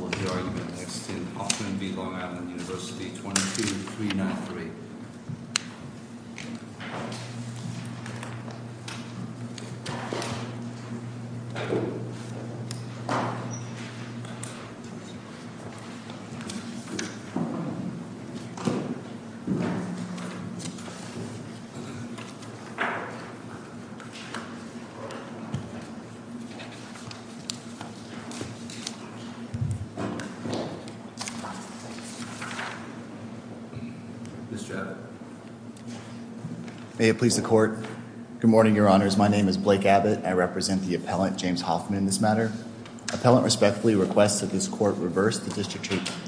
22393 Good morning your honors. My name is Blake Abbott. I represent the appellant James Hoffman in this matter. Appellant respectfully requests that this court reverse the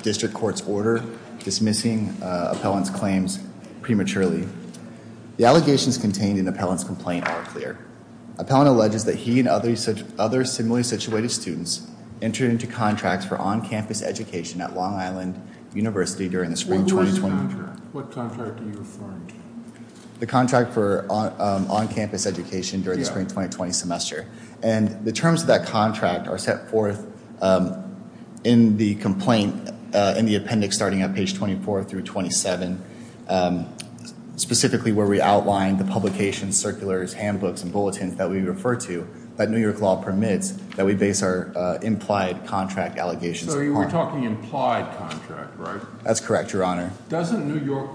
district court's order dismissing appellant's claims prematurely. The allegations contained in appellant's complaint are clear. Appellant alleges that he and other similarly situated students entered into contracts for on-campus education at Long Island University during the spring 2020 semester. What contract are you referring to? The contract for on-campus education during the spring 2020 semester. And the terms of that contract are set forth in the complaint in the appendix starting at page 24 through 27. Specifically where we outline the publications, circulars, handbooks, and bulletins that we refer to that New York law permits that we base our implied contract allegations upon. So you were talking implied contract, right? That's correct, your honor. Doesn't New York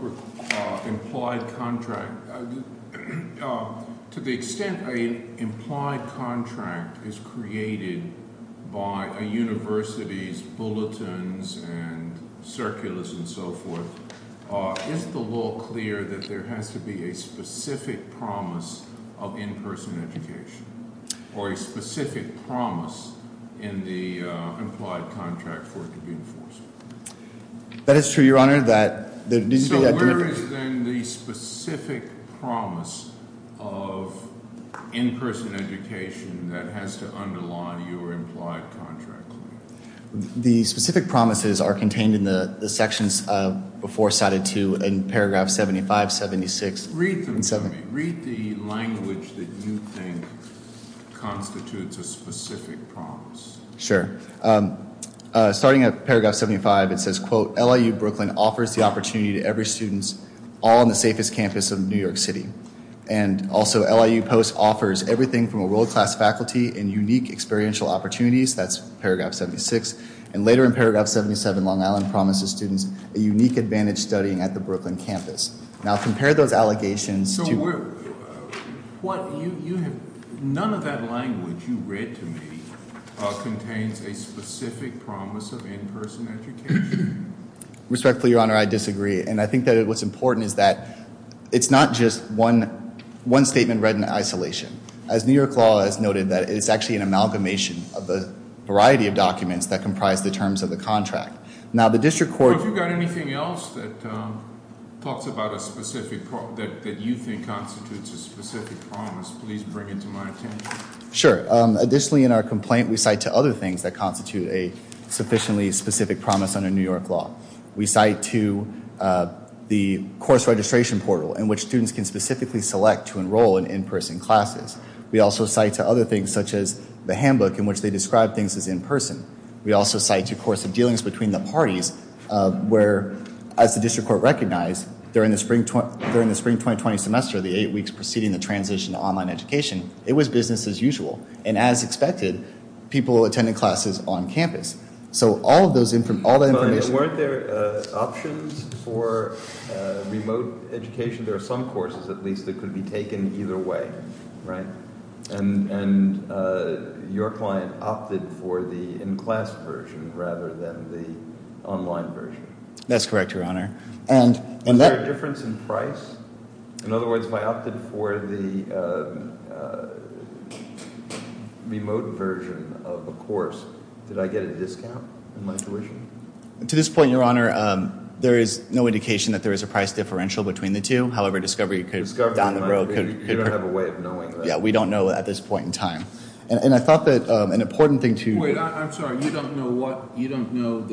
implied contract, to the extent an implied contract is created by a university's bulletins and circulars and so forth, is the law clear that there has to be a specific promise of in-person education? Or a specific promise in the implied contract for it to be enforced? That is true, your honor. So where is then the specific promise of in-person education that has to underline your implied contract claim? The specific promises are contained in the sections before cited to in paragraph 75, 76. Read them to me. Read the language that you think constitutes a specific promise. Sure. Starting at paragraph 75, it says, quote, LIU Brooklyn offers the opportunity to every student all in the safest campus of New York City. And also LIU Post offers everything from a world-class faculty and unique experiential opportunities, that's paragraph 76. And later in paragraph 77, Long Island promises students a unique advantage studying at the Brooklyn campus. Now compare those allegations to- None of that language you read to me contains a specific promise of in-person education. Respectfully, your honor, I disagree. And I think that what's important is that it's not just one statement read in isolation. As New York law has noted that it's actually an amalgamation of a variety of documents that comprise the terms of the contract. If you've got anything else that talks about a specific, that you think constitutes a specific promise, please bring it to my attention. Sure. Additionally, in our complaint, we cite to other things that constitute a sufficiently specific promise under New York law. We cite to the course registration portal in which students can specifically select to enroll in in-person classes. We also cite to other things such as the handbook in which they describe things as in-person. We also cite to course of dealings between the parties where, as the district court recognized, during the spring 2020 semester, the eight weeks preceding the transition to online education, it was business as usual. And as expected, people attended classes on campus. So all of those, all that information- But weren't there options for remote education? There are some courses, at least, that could be taken either way, right? And your client opted for the in-class version rather than the online version? That's correct, Your Honor. And was there a difference in price? In other words, if I opted for the remote version of a course, did I get a discount in my tuition? To this point, Your Honor, there is no indication that there is a price differential between the two. However, discovery down the road could- You don't have a way of knowing that. Yeah, we don't know at this point in time. And I thought that an important thing to- Wait, I'm sorry. You don't know what? You don't know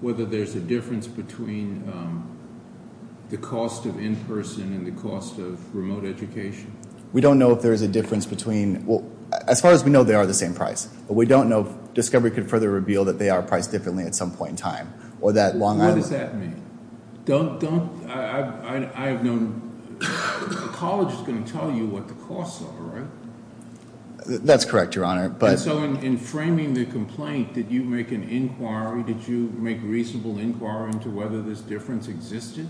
whether there's a difference between the cost of in-person and the cost of remote education? We don't know if there is a difference between- As far as we know, they are the same price. But we don't know if discovery could further reveal that they are priced differently at some point in time. What does that mean? I have no- The college is going to tell you what the costs are, right? That's correct, Your Honor. And so in framing the complaint, did you make an inquiry? Did you make a reasonable inquiry into whether this difference existed?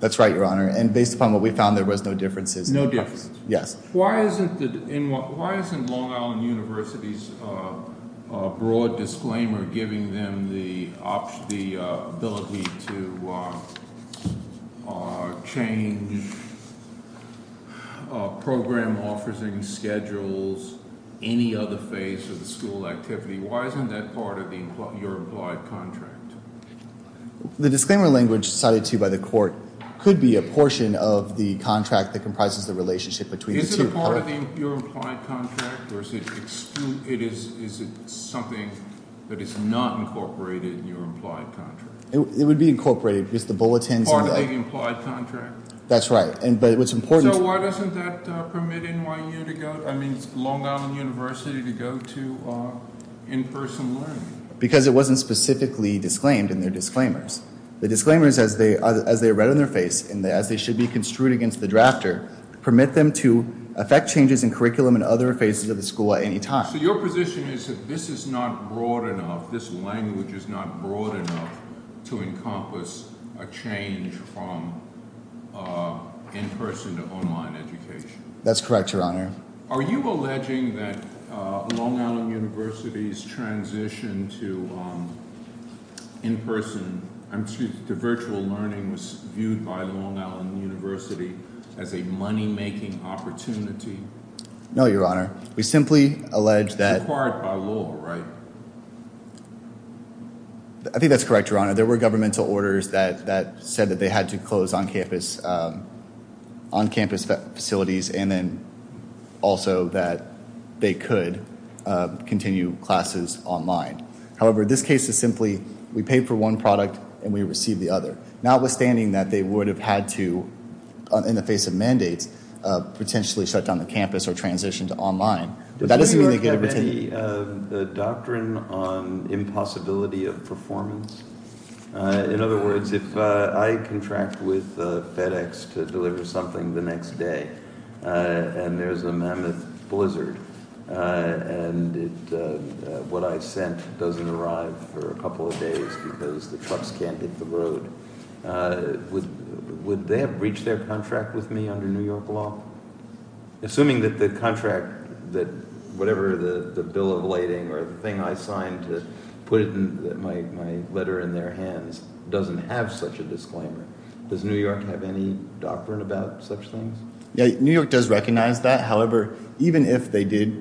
That's right, Your Honor. And based upon what we found, there was no differences. No differences? Yes. Why isn't Long Island University's broad disclaimer giving them the ability to change program offerings, schedules, any other phase of the school activity? Why isn't that part of your implied contract? The disclaimer language cited to you by the court could be a portion of the contract that comprises the relationship between the two. Is it part of your implied contract or is it something that is not incorporated in your implied contract? It would be incorporated because the bulletins- Part of the implied contract? That's right. But what's important- So why doesn't that permit NYU to go- I mean Long Island University to go to in-person learning? Because it wasn't specifically disclaimed in their disclaimers. The disclaimers, as they are read on their face and as they should be construed against the drafter, permit them to affect changes in curriculum and other phases of the school at any time. So your position is that this is not broad enough, this language is not broad enough to encompass a change from in-person to online education? That's correct, Your Honor. Are you alleging that Long Island University's transition to virtual learning was viewed by Long Island University as a money-making opportunity? No, Your Honor. We simply allege that- It's required by law, right? I think that's correct, Your Honor. There were governmental orders that said that they had to close on-campus facilities and then also that they could continue classes online. However, this case is simply we pay for one product and we receive the other. Notwithstanding that they would have had to, in the face of mandates, potentially shut down the campus or transition to online. Does New York have any doctrine on impossibility of performance? In other words, if I contract with FedEx to deliver something the next day and there's a mammoth blizzard and what I sent doesn't arrive for a couple of days because the trucks can't hit the road, would they have breached their contract with me under New York law? Assuming that the contract, whatever the bill of lading or the thing I signed to put my letter in their hands doesn't have such a disclaimer, does New York have any doctrine about such things? New York does recognize that. However, even if they did-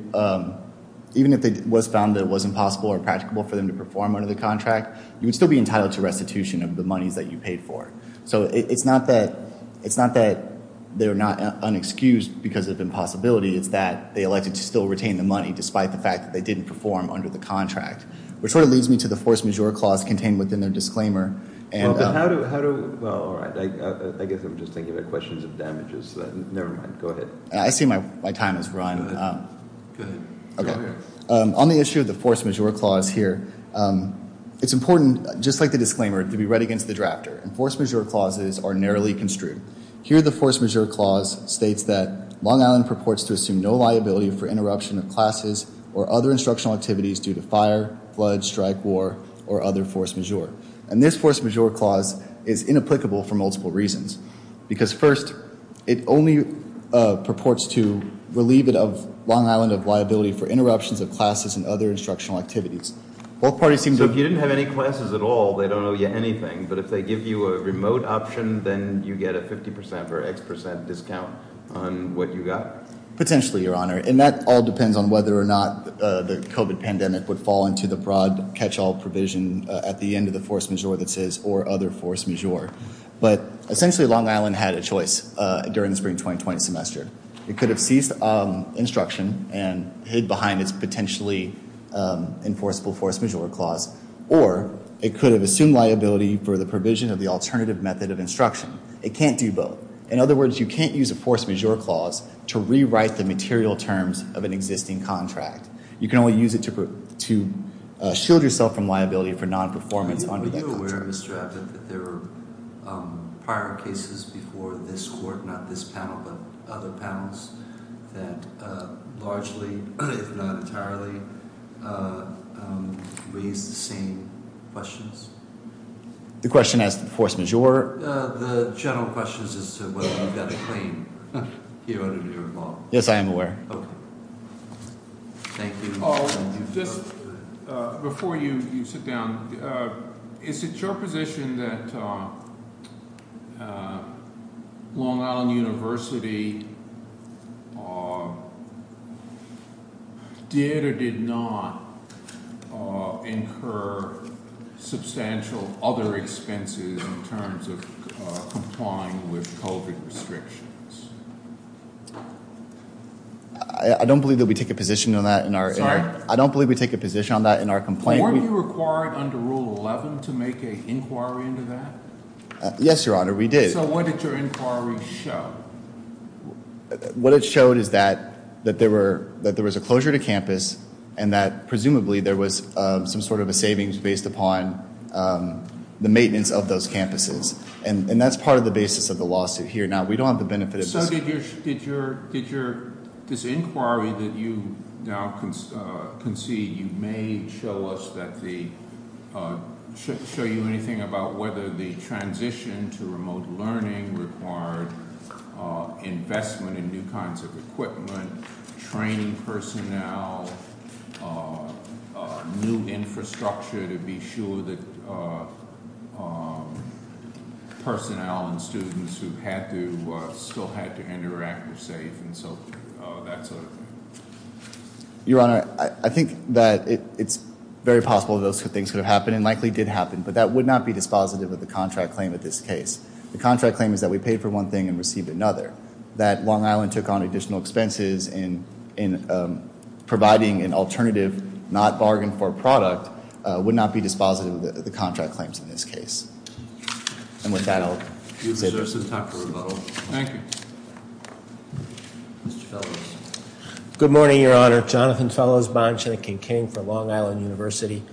even if it was found that it was impossible or impractical for them to perform under the contract, you would still be entitled to restitution of the monies that you paid for. So it's not that they're not unexcused because of impossibility. It's that they elected to still retain the money despite the fact that they didn't perform under the contract. Which sort of leads me to the force majeure clause contained within their disclaimer. Well, but how do- well, all right. I guess I'm just thinking about questions of damages. Never mind. Go ahead. I see my time has run. Go ahead. On the issue of the force majeure clause here, it's important, just like the disclaimer, to be read against the drafter. Force majeure clauses are narrowly construed. Here the force majeure clause states that Long Island purports to assume no liability for interruption of classes or other instructional activities due to fire, flood, strike, war, or other force majeure. And this force majeure clause is inapplicable for multiple reasons. Because first, it only purports to relieve it of Long Island of liability for interruptions of classes and other instructional activities. Both parties seem to- So if you didn't have any classes at all, they don't owe you anything. But if they give you a remote option, then you get a 50% or X% discount on what you got? Potentially, Your Honor. And that all depends on whether or not the COVID pandemic would fall into the broad catch-all provision at the end of the force majeure that says or other force majeure. But essentially, Long Island had a choice during the spring 2020 semester. It could have ceased instruction and hid behind its potentially enforceable force majeure clause. Or it could have assumed liability for the provision of the alternative method of instruction. It can't do both. In other words, you can't use a force majeure clause to rewrite the material terms of an existing contract. You can only use it to shield yourself from liability for non-performance under that contract. Are you aware, Mr. Abbott, that there were prior cases before this court, not this panel, but other panels that largely, if not entirely, raised the same questions? The question as to force majeure? The general question is whether you've got a claim here under your law. Yes, I am aware. Okay. Thank you. Just before you sit down, is it your position that Long Island University did or did not incur substantial other expenses in terms of complying with COVID restrictions? I don't believe that we take a position on that. Sorry? I don't believe we take a position on that in our complaint. Weren't you required under Rule 11 to make an inquiry into that? Yes, Your Honor, we did. So what did your inquiry show? What it showed is that there was a closure to campus and that presumably there was some sort of a savings based upon the maintenance of those campuses. And that's part of the basis of the lawsuit here. Now, we don't have the benefit of this. Did your – this inquiry that you now concede, you may show us that the – show you anything about whether the transition to remote learning required investment in new kinds of equipment, training personnel, new infrastructure to be sure that personnel and students who had to – still had to interact were safe and so that sort of thing? Your Honor, I think that it's very possible those things could have happened and likely did happen, but that would not be dispositive of the contract claim in this case. The contract claim is that we paid for one thing and received another. That Long Island took on additional expenses in providing an alternative, not bargain for product, would not be dispositive of the contract claims in this case. And with that, I'll – Mr. Sousa, time for rebuttal. Thank you. Mr. Fellowes. Good morning, Your Honor. Jonathan Fellows, Bonchanic and King for Long Island University.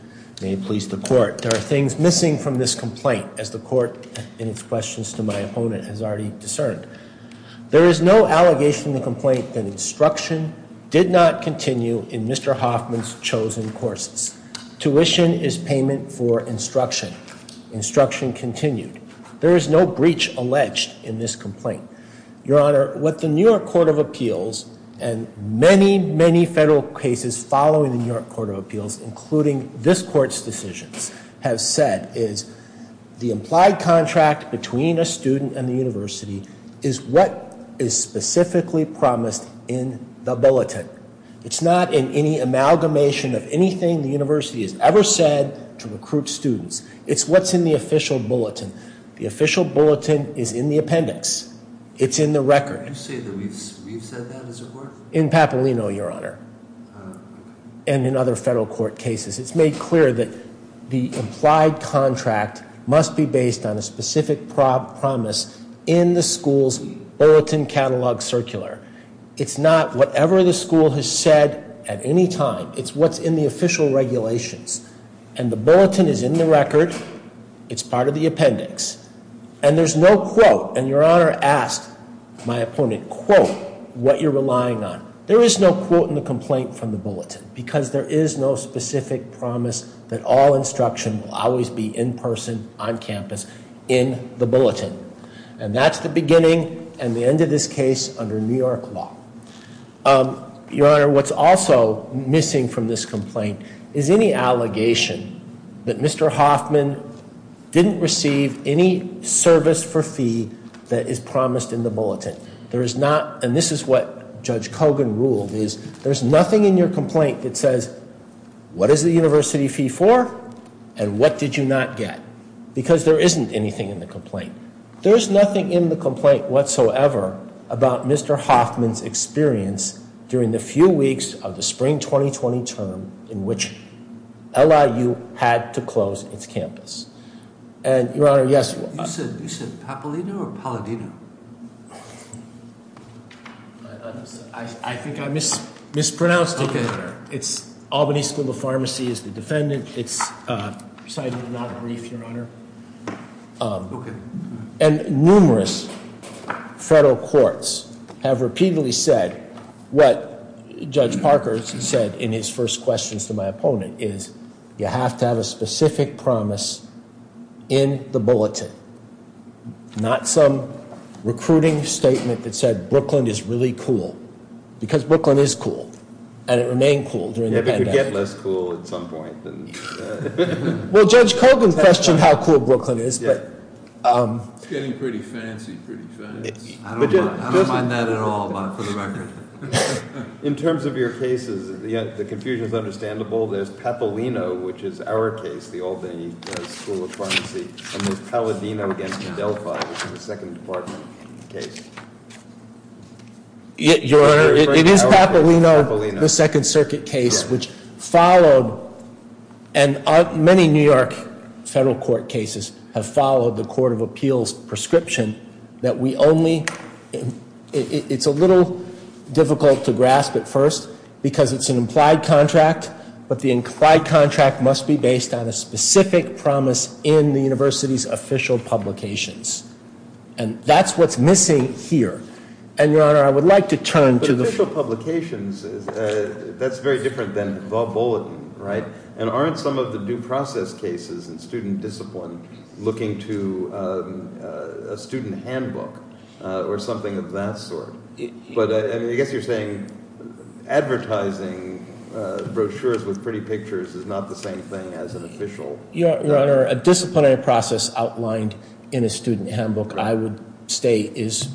May it please the Court. There are things missing from this complaint, as the Court in its questions to my opponent has already discerned. There is no allegation in the complaint that instruction did not continue in Mr. Hoffman's chosen courses. Tuition is payment for instruction. Instruction continued. There is no breach alleged in this complaint. Your Honor, what the New York Court of Appeals and many, many federal cases following the New York Court of Appeals, including this Court's decisions, have said is the implied contract between a student and the university is what is specifically promised in the bulletin. It's not in any amalgamation of anything the university has ever said to recruit students. It's what's in the official bulletin. The official bulletin is in the appendix. It's in the record. Did you say that we've said that as a Court? In Papalino, Your Honor, and in other federal court cases. It's made clear that the implied contract must be based on a specific promise in the school's bulletin catalog circular. It's not whatever the school has said at any time. It's what's in the official regulations. And the bulletin is in the record. It's part of the appendix. And there's no quote, and Your Honor asked my opponent, quote, what you're relying on. There is no quote in the complaint from the bulletin because there is no specific promise that all instruction will always be in person, on campus, in the bulletin. And that's the beginning and the end of this case under New York law. Your Honor, what's also missing from this complaint is any allegation that Mr. Hoffman didn't receive any service for fee that is promised in the bulletin. There is not, and this is what Judge Kogan ruled, is there's nothing in your complaint that says, what is the university fee for and what did you not get? Because there isn't anything in the complaint. There's nothing in the complaint whatsoever about Mr. Hoffman's experience during the few weeks of the spring 2020 term in which LIU had to close its campus. And, Your Honor, yes. You said, you said Papalino or Paladino? I think I mispronounced it. Okay, Your Honor. It's Albany School of Pharmacy is the defendant. It's, sorry, I did not brief, Your Honor. Okay. And numerous federal courts have repeatedly said what Judge Parker said in his first questions to my opponent is, you have to have a specific promise in the bulletin. Not some recruiting statement that said Brooklyn is really cool. Because Brooklyn is cool. And it remained cool during the pandemic. Yeah, but it would get less cool at some point. Well, Judge Kogan questioned how cool Brooklyn is, but. It's getting pretty fancy, pretty fancy. I don't mind that at all, but for the record. In terms of your cases, the confusion is understandable. There's Papalino, which is our case, the Albany School of Pharmacy. And there's Paladino against Adelphi, which is a Second Department case. Your Honor, it is Papalino, the Second Circuit case, which followed. And many New York federal court cases have followed the Court of Appeals prescription that we only. It's a little difficult to grasp at first, because it's an implied contract. But the implied contract must be based on a specific promise in the university's official publications. And that's what's missing here. And, Your Honor, I would like to turn to the. But official publications, that's very different than the bulletin, right? And aren't some of the due process cases in student discipline looking to a student handbook or something of that sort? But I guess you're saying advertising brochures with pretty pictures is not the same thing as an official. Your Honor, a disciplinary process outlined in a student handbook, I would state, is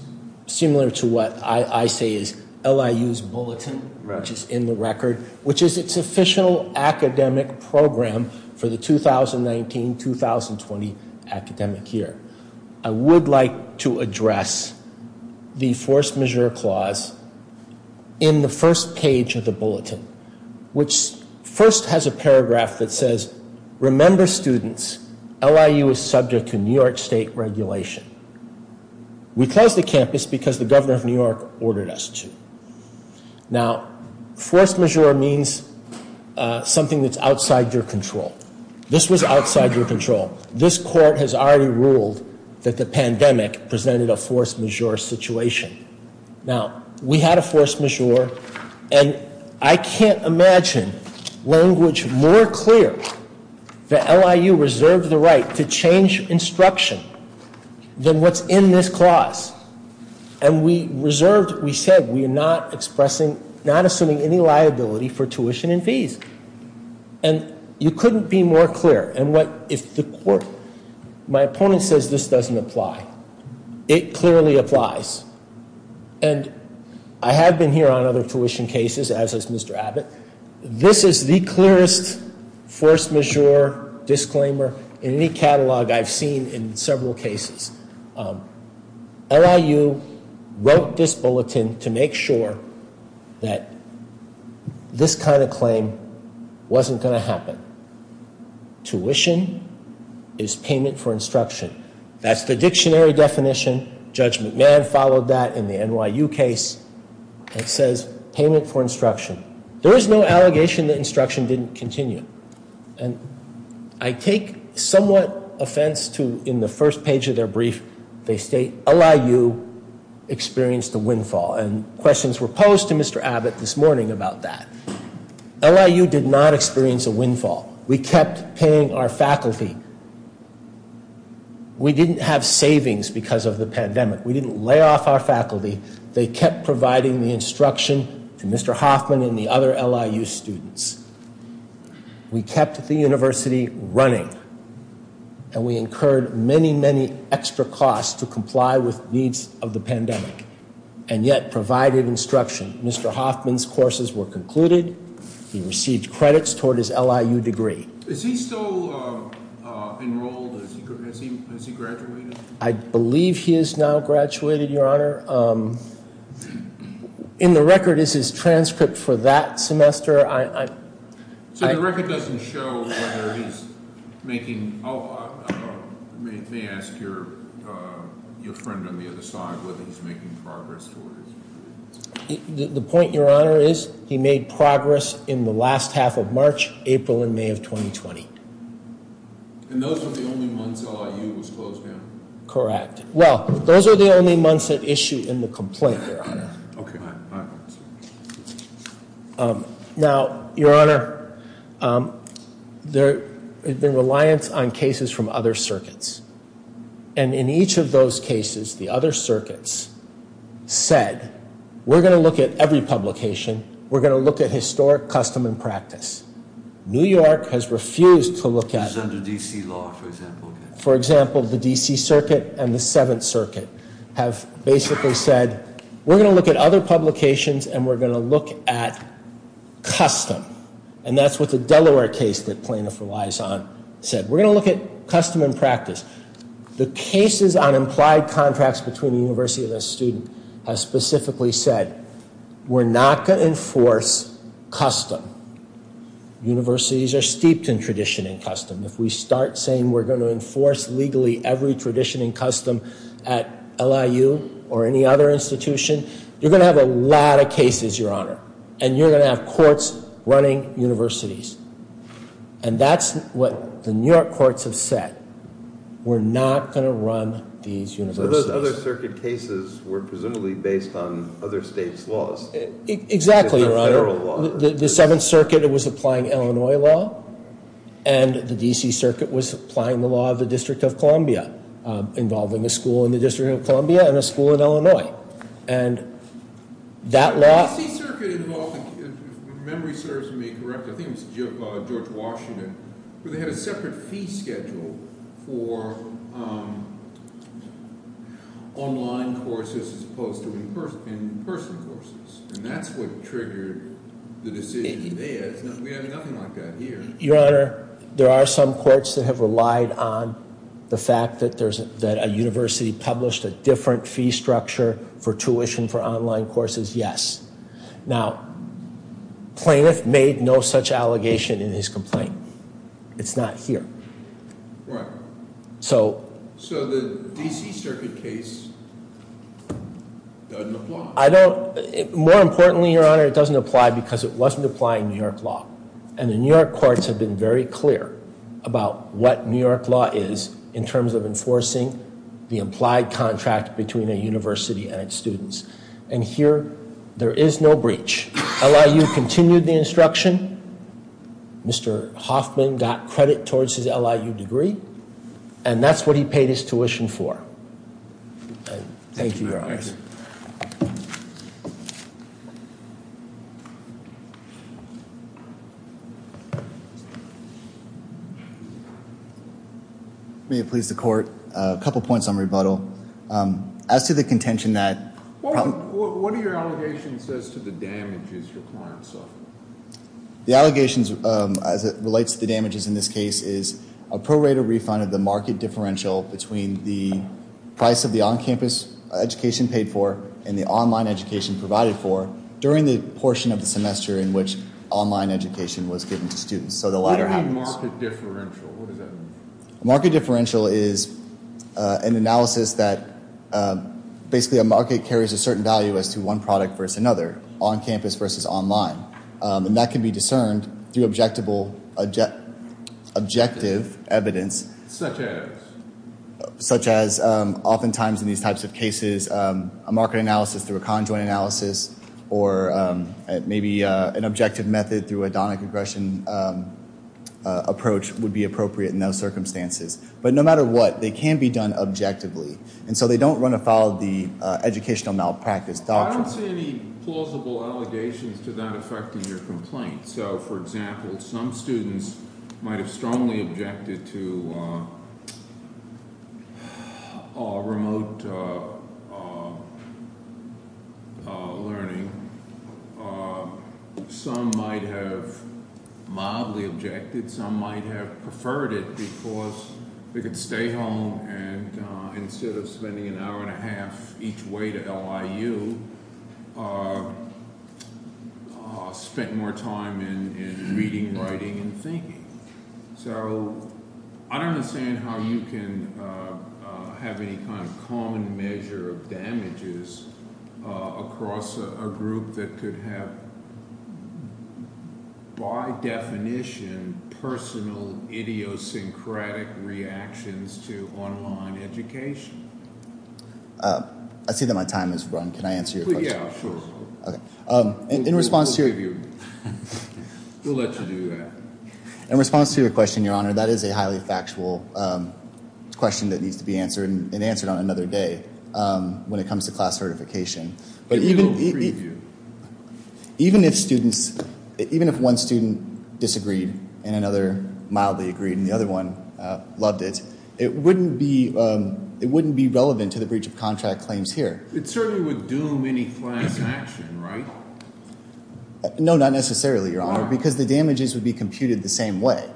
similar to what I say is LIU's bulletin, which is in the record, which is its official academic program for the 2019-2020 academic year. I would like to address the force majeure clause in the first page of the bulletin, which first has a paragraph that says, remember students, LIU is subject to New York State regulation. We closed the campus because the governor of New York ordered us to. Now, force majeure means something that's outside your control. This was outside your control. This court has already ruled that the pandemic presented a force majeure situation. Now, we had a force majeure, and I can't imagine language more clear that LIU reserved the right to change instruction than what's in this clause. And we reserved, we said, we are not expressing, not assuming any liability for tuition and fees. And you couldn't be more clear. My opponent says this doesn't apply. It clearly applies. And I have been here on other tuition cases, as has Mr. Abbott. This is the clearest force majeure disclaimer in any catalog I've seen in several cases. LIU wrote this bulletin to make sure that this kind of claim wasn't going to happen. Tuition is payment for instruction. That's the dictionary definition. Judge McMahon followed that in the NYU case. It says payment for instruction. There is no allegation that instruction didn't continue. And I take somewhat offense to, in the first page of their brief, they state LIU experienced a windfall. And questions were posed to Mr. Abbott this morning about that. LIU did not experience a windfall. We kept paying our faculty. We didn't have savings because of the pandemic. We didn't lay off our faculty. They kept providing the instruction to Mr. Hoffman and the other LIU students. We kept the university running. And we incurred many, many extra costs to comply with needs of the pandemic. And yet provided instruction. Mr. Hoffman's courses were concluded. He received credits toward his LIU degree. Is he still enrolled? Has he graduated? I believe he has now graduated, Your Honor. In the record is his transcript for that semester. So the record doesn't show whether he's making, oh, let me ask your friend on the other side whether he's making progress toward his degree. The point, Your Honor, is he made progress in the last half of March, April, and May of 2020. And those were the only months LIU was closed down? Correct. Well, those are the only months that issue in the complaint, Your Honor. Okay. All right. Now, Your Honor, there has been reliance on cases from other circuits. And in each of those cases, the other circuits said, we're going to look at every publication. We're going to look at historic custom and practice. New York has refused to look at it. It's under D.C. law, for example. For example, the D.C. Circuit and the Seventh Circuit have basically said, we're going to look at other publications, and we're going to look at custom. And that's what the Delaware case that plaintiff relies on said. We're going to look at custom and practice. The cases on implied contracts between the university and the student have specifically said, we're not going to enforce custom. Universities are steeped in tradition and custom. If we start saying we're going to enforce legally every tradition and custom at LIU or any other institution, you're going to have a lot of cases, Your Honor. And you're going to have courts running universities. And that's what the New York courts have said. We're not going to run these universities. So those other circuit cases were presumably based on other states' laws. Exactly, Your Honor. Federal law. Well, the Seventh Circuit was applying Illinois law. And the D.C. Circuit was applying the law of the District of Columbia, involving a school in the District of Columbia and a school in Illinois. And that law- The D.C. Circuit involved, if memory serves me correctly, I think it was George Washington, where they had a separate fee schedule for online courses as opposed to in-person courses. And that's what triggered the decision there. We have nothing like that here. Your Honor, there are some courts that have relied on the fact that a university published a different fee structure for tuition for online courses, yes. Now, Plaintiff made no such allegation in his complaint. It's not here. Right. So- So the D.C. Circuit case doesn't apply. More importantly, Your Honor, it doesn't apply because it wasn't applying New York law. And the New York courts have been very clear about what New York law is in terms of enforcing the implied contract between a university and its students. And here, there is no breach. LIU continued the instruction. Mr. Hoffman got credit towards his LIU degree. And that's what he paid his tuition for. Thank you, Your Honor. May it please the court, a couple points on rebuttal. As to the contention that- What are your allegations as to the damages your client suffered? The allegations as it relates to the damages in this case is a prorated refund of the market differential between the price of the on-campus education paid for and the online education provided for during the portion of the semester in which online education was given to students. So the latter- What do you mean market differential? What does that mean? And that can be discerned through objective evidence- Such as? Such as oftentimes in these types of cases, a market analysis through a conjoined analysis or maybe an objective method through a donna congression approach would be appropriate in those circumstances. But no matter what, they can be done objectively. And so they don't run afoul of the educational malpractice doctrine. I don't see any plausible allegations to that effect in your complaint. So, for example, some students might have strongly objected to remote learning. Some might have mildly objected. Some might have preferred it because they could stay home and instead of spending an hour and a half each way to LIU, spent more time in reading, writing, and thinking. So I don't understand how you can have any kind of common measure of damages across a group that could have, by definition, personal idiosyncratic reactions to online education. I see that my time has run. Can I answer your question? Yeah, sure. Okay. In response to- We'll let you do that. In response to your question, Your Honor, that is a highly factual question that needs to be answered and answered on another day when it comes to class certification. But even- We don't free you. Even if students, even if one student disagreed and another mildly agreed and the other one loved it, it wouldn't be relevant to the breach of contract claims here. It certainly would doom any class action, right? No, not necessarily, Your Honor, because the damages would be computed the same way.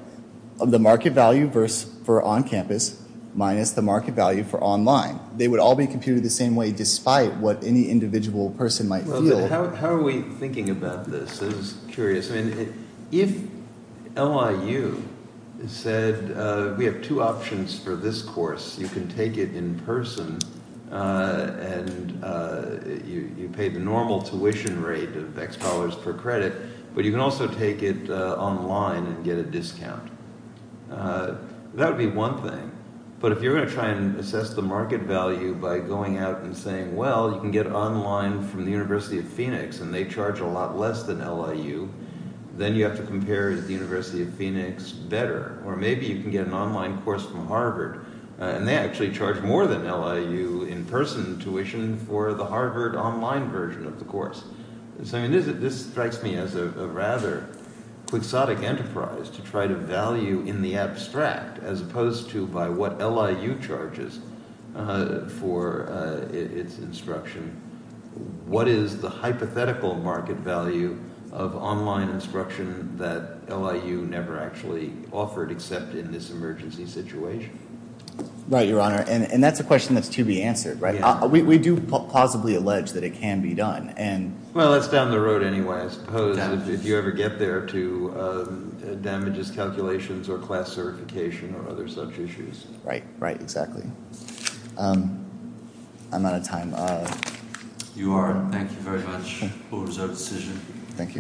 The market value for on campus minus the market value for online. They would all be computed the same way despite what any individual person might feel. How are we thinking about this? This is curious. If LIU said we have two options for this course, you can take it in person and you pay the normal tuition rate of X dollars per credit, but you can also take it online and get a discount. That would be one thing. But if you're going to try and assess the market value by going out and saying, well, you can get online from the University of Phoenix and they charge a lot less than LIU, then you have to compare the University of Phoenix better. Or maybe you can get an online course from Harvard and they actually charge more than LIU in person tuition for the Harvard online version of the course. This strikes me as a rather quixotic enterprise to try to value in the abstract as opposed to by what LIU charges for its instruction. What is the hypothetical market value of online instruction that LIU never actually offered except in this emergency situation? Right, Your Honor, and that's a question that's to be answered. We do plausibly allege that it can be done. Well, it's down the road anyway, I suppose, if you ever get there to damages calculations or class certification or other such issues. Right, right, exactly. I'm out of time. You are. Thank you very much. Court is adjourned. Thank you.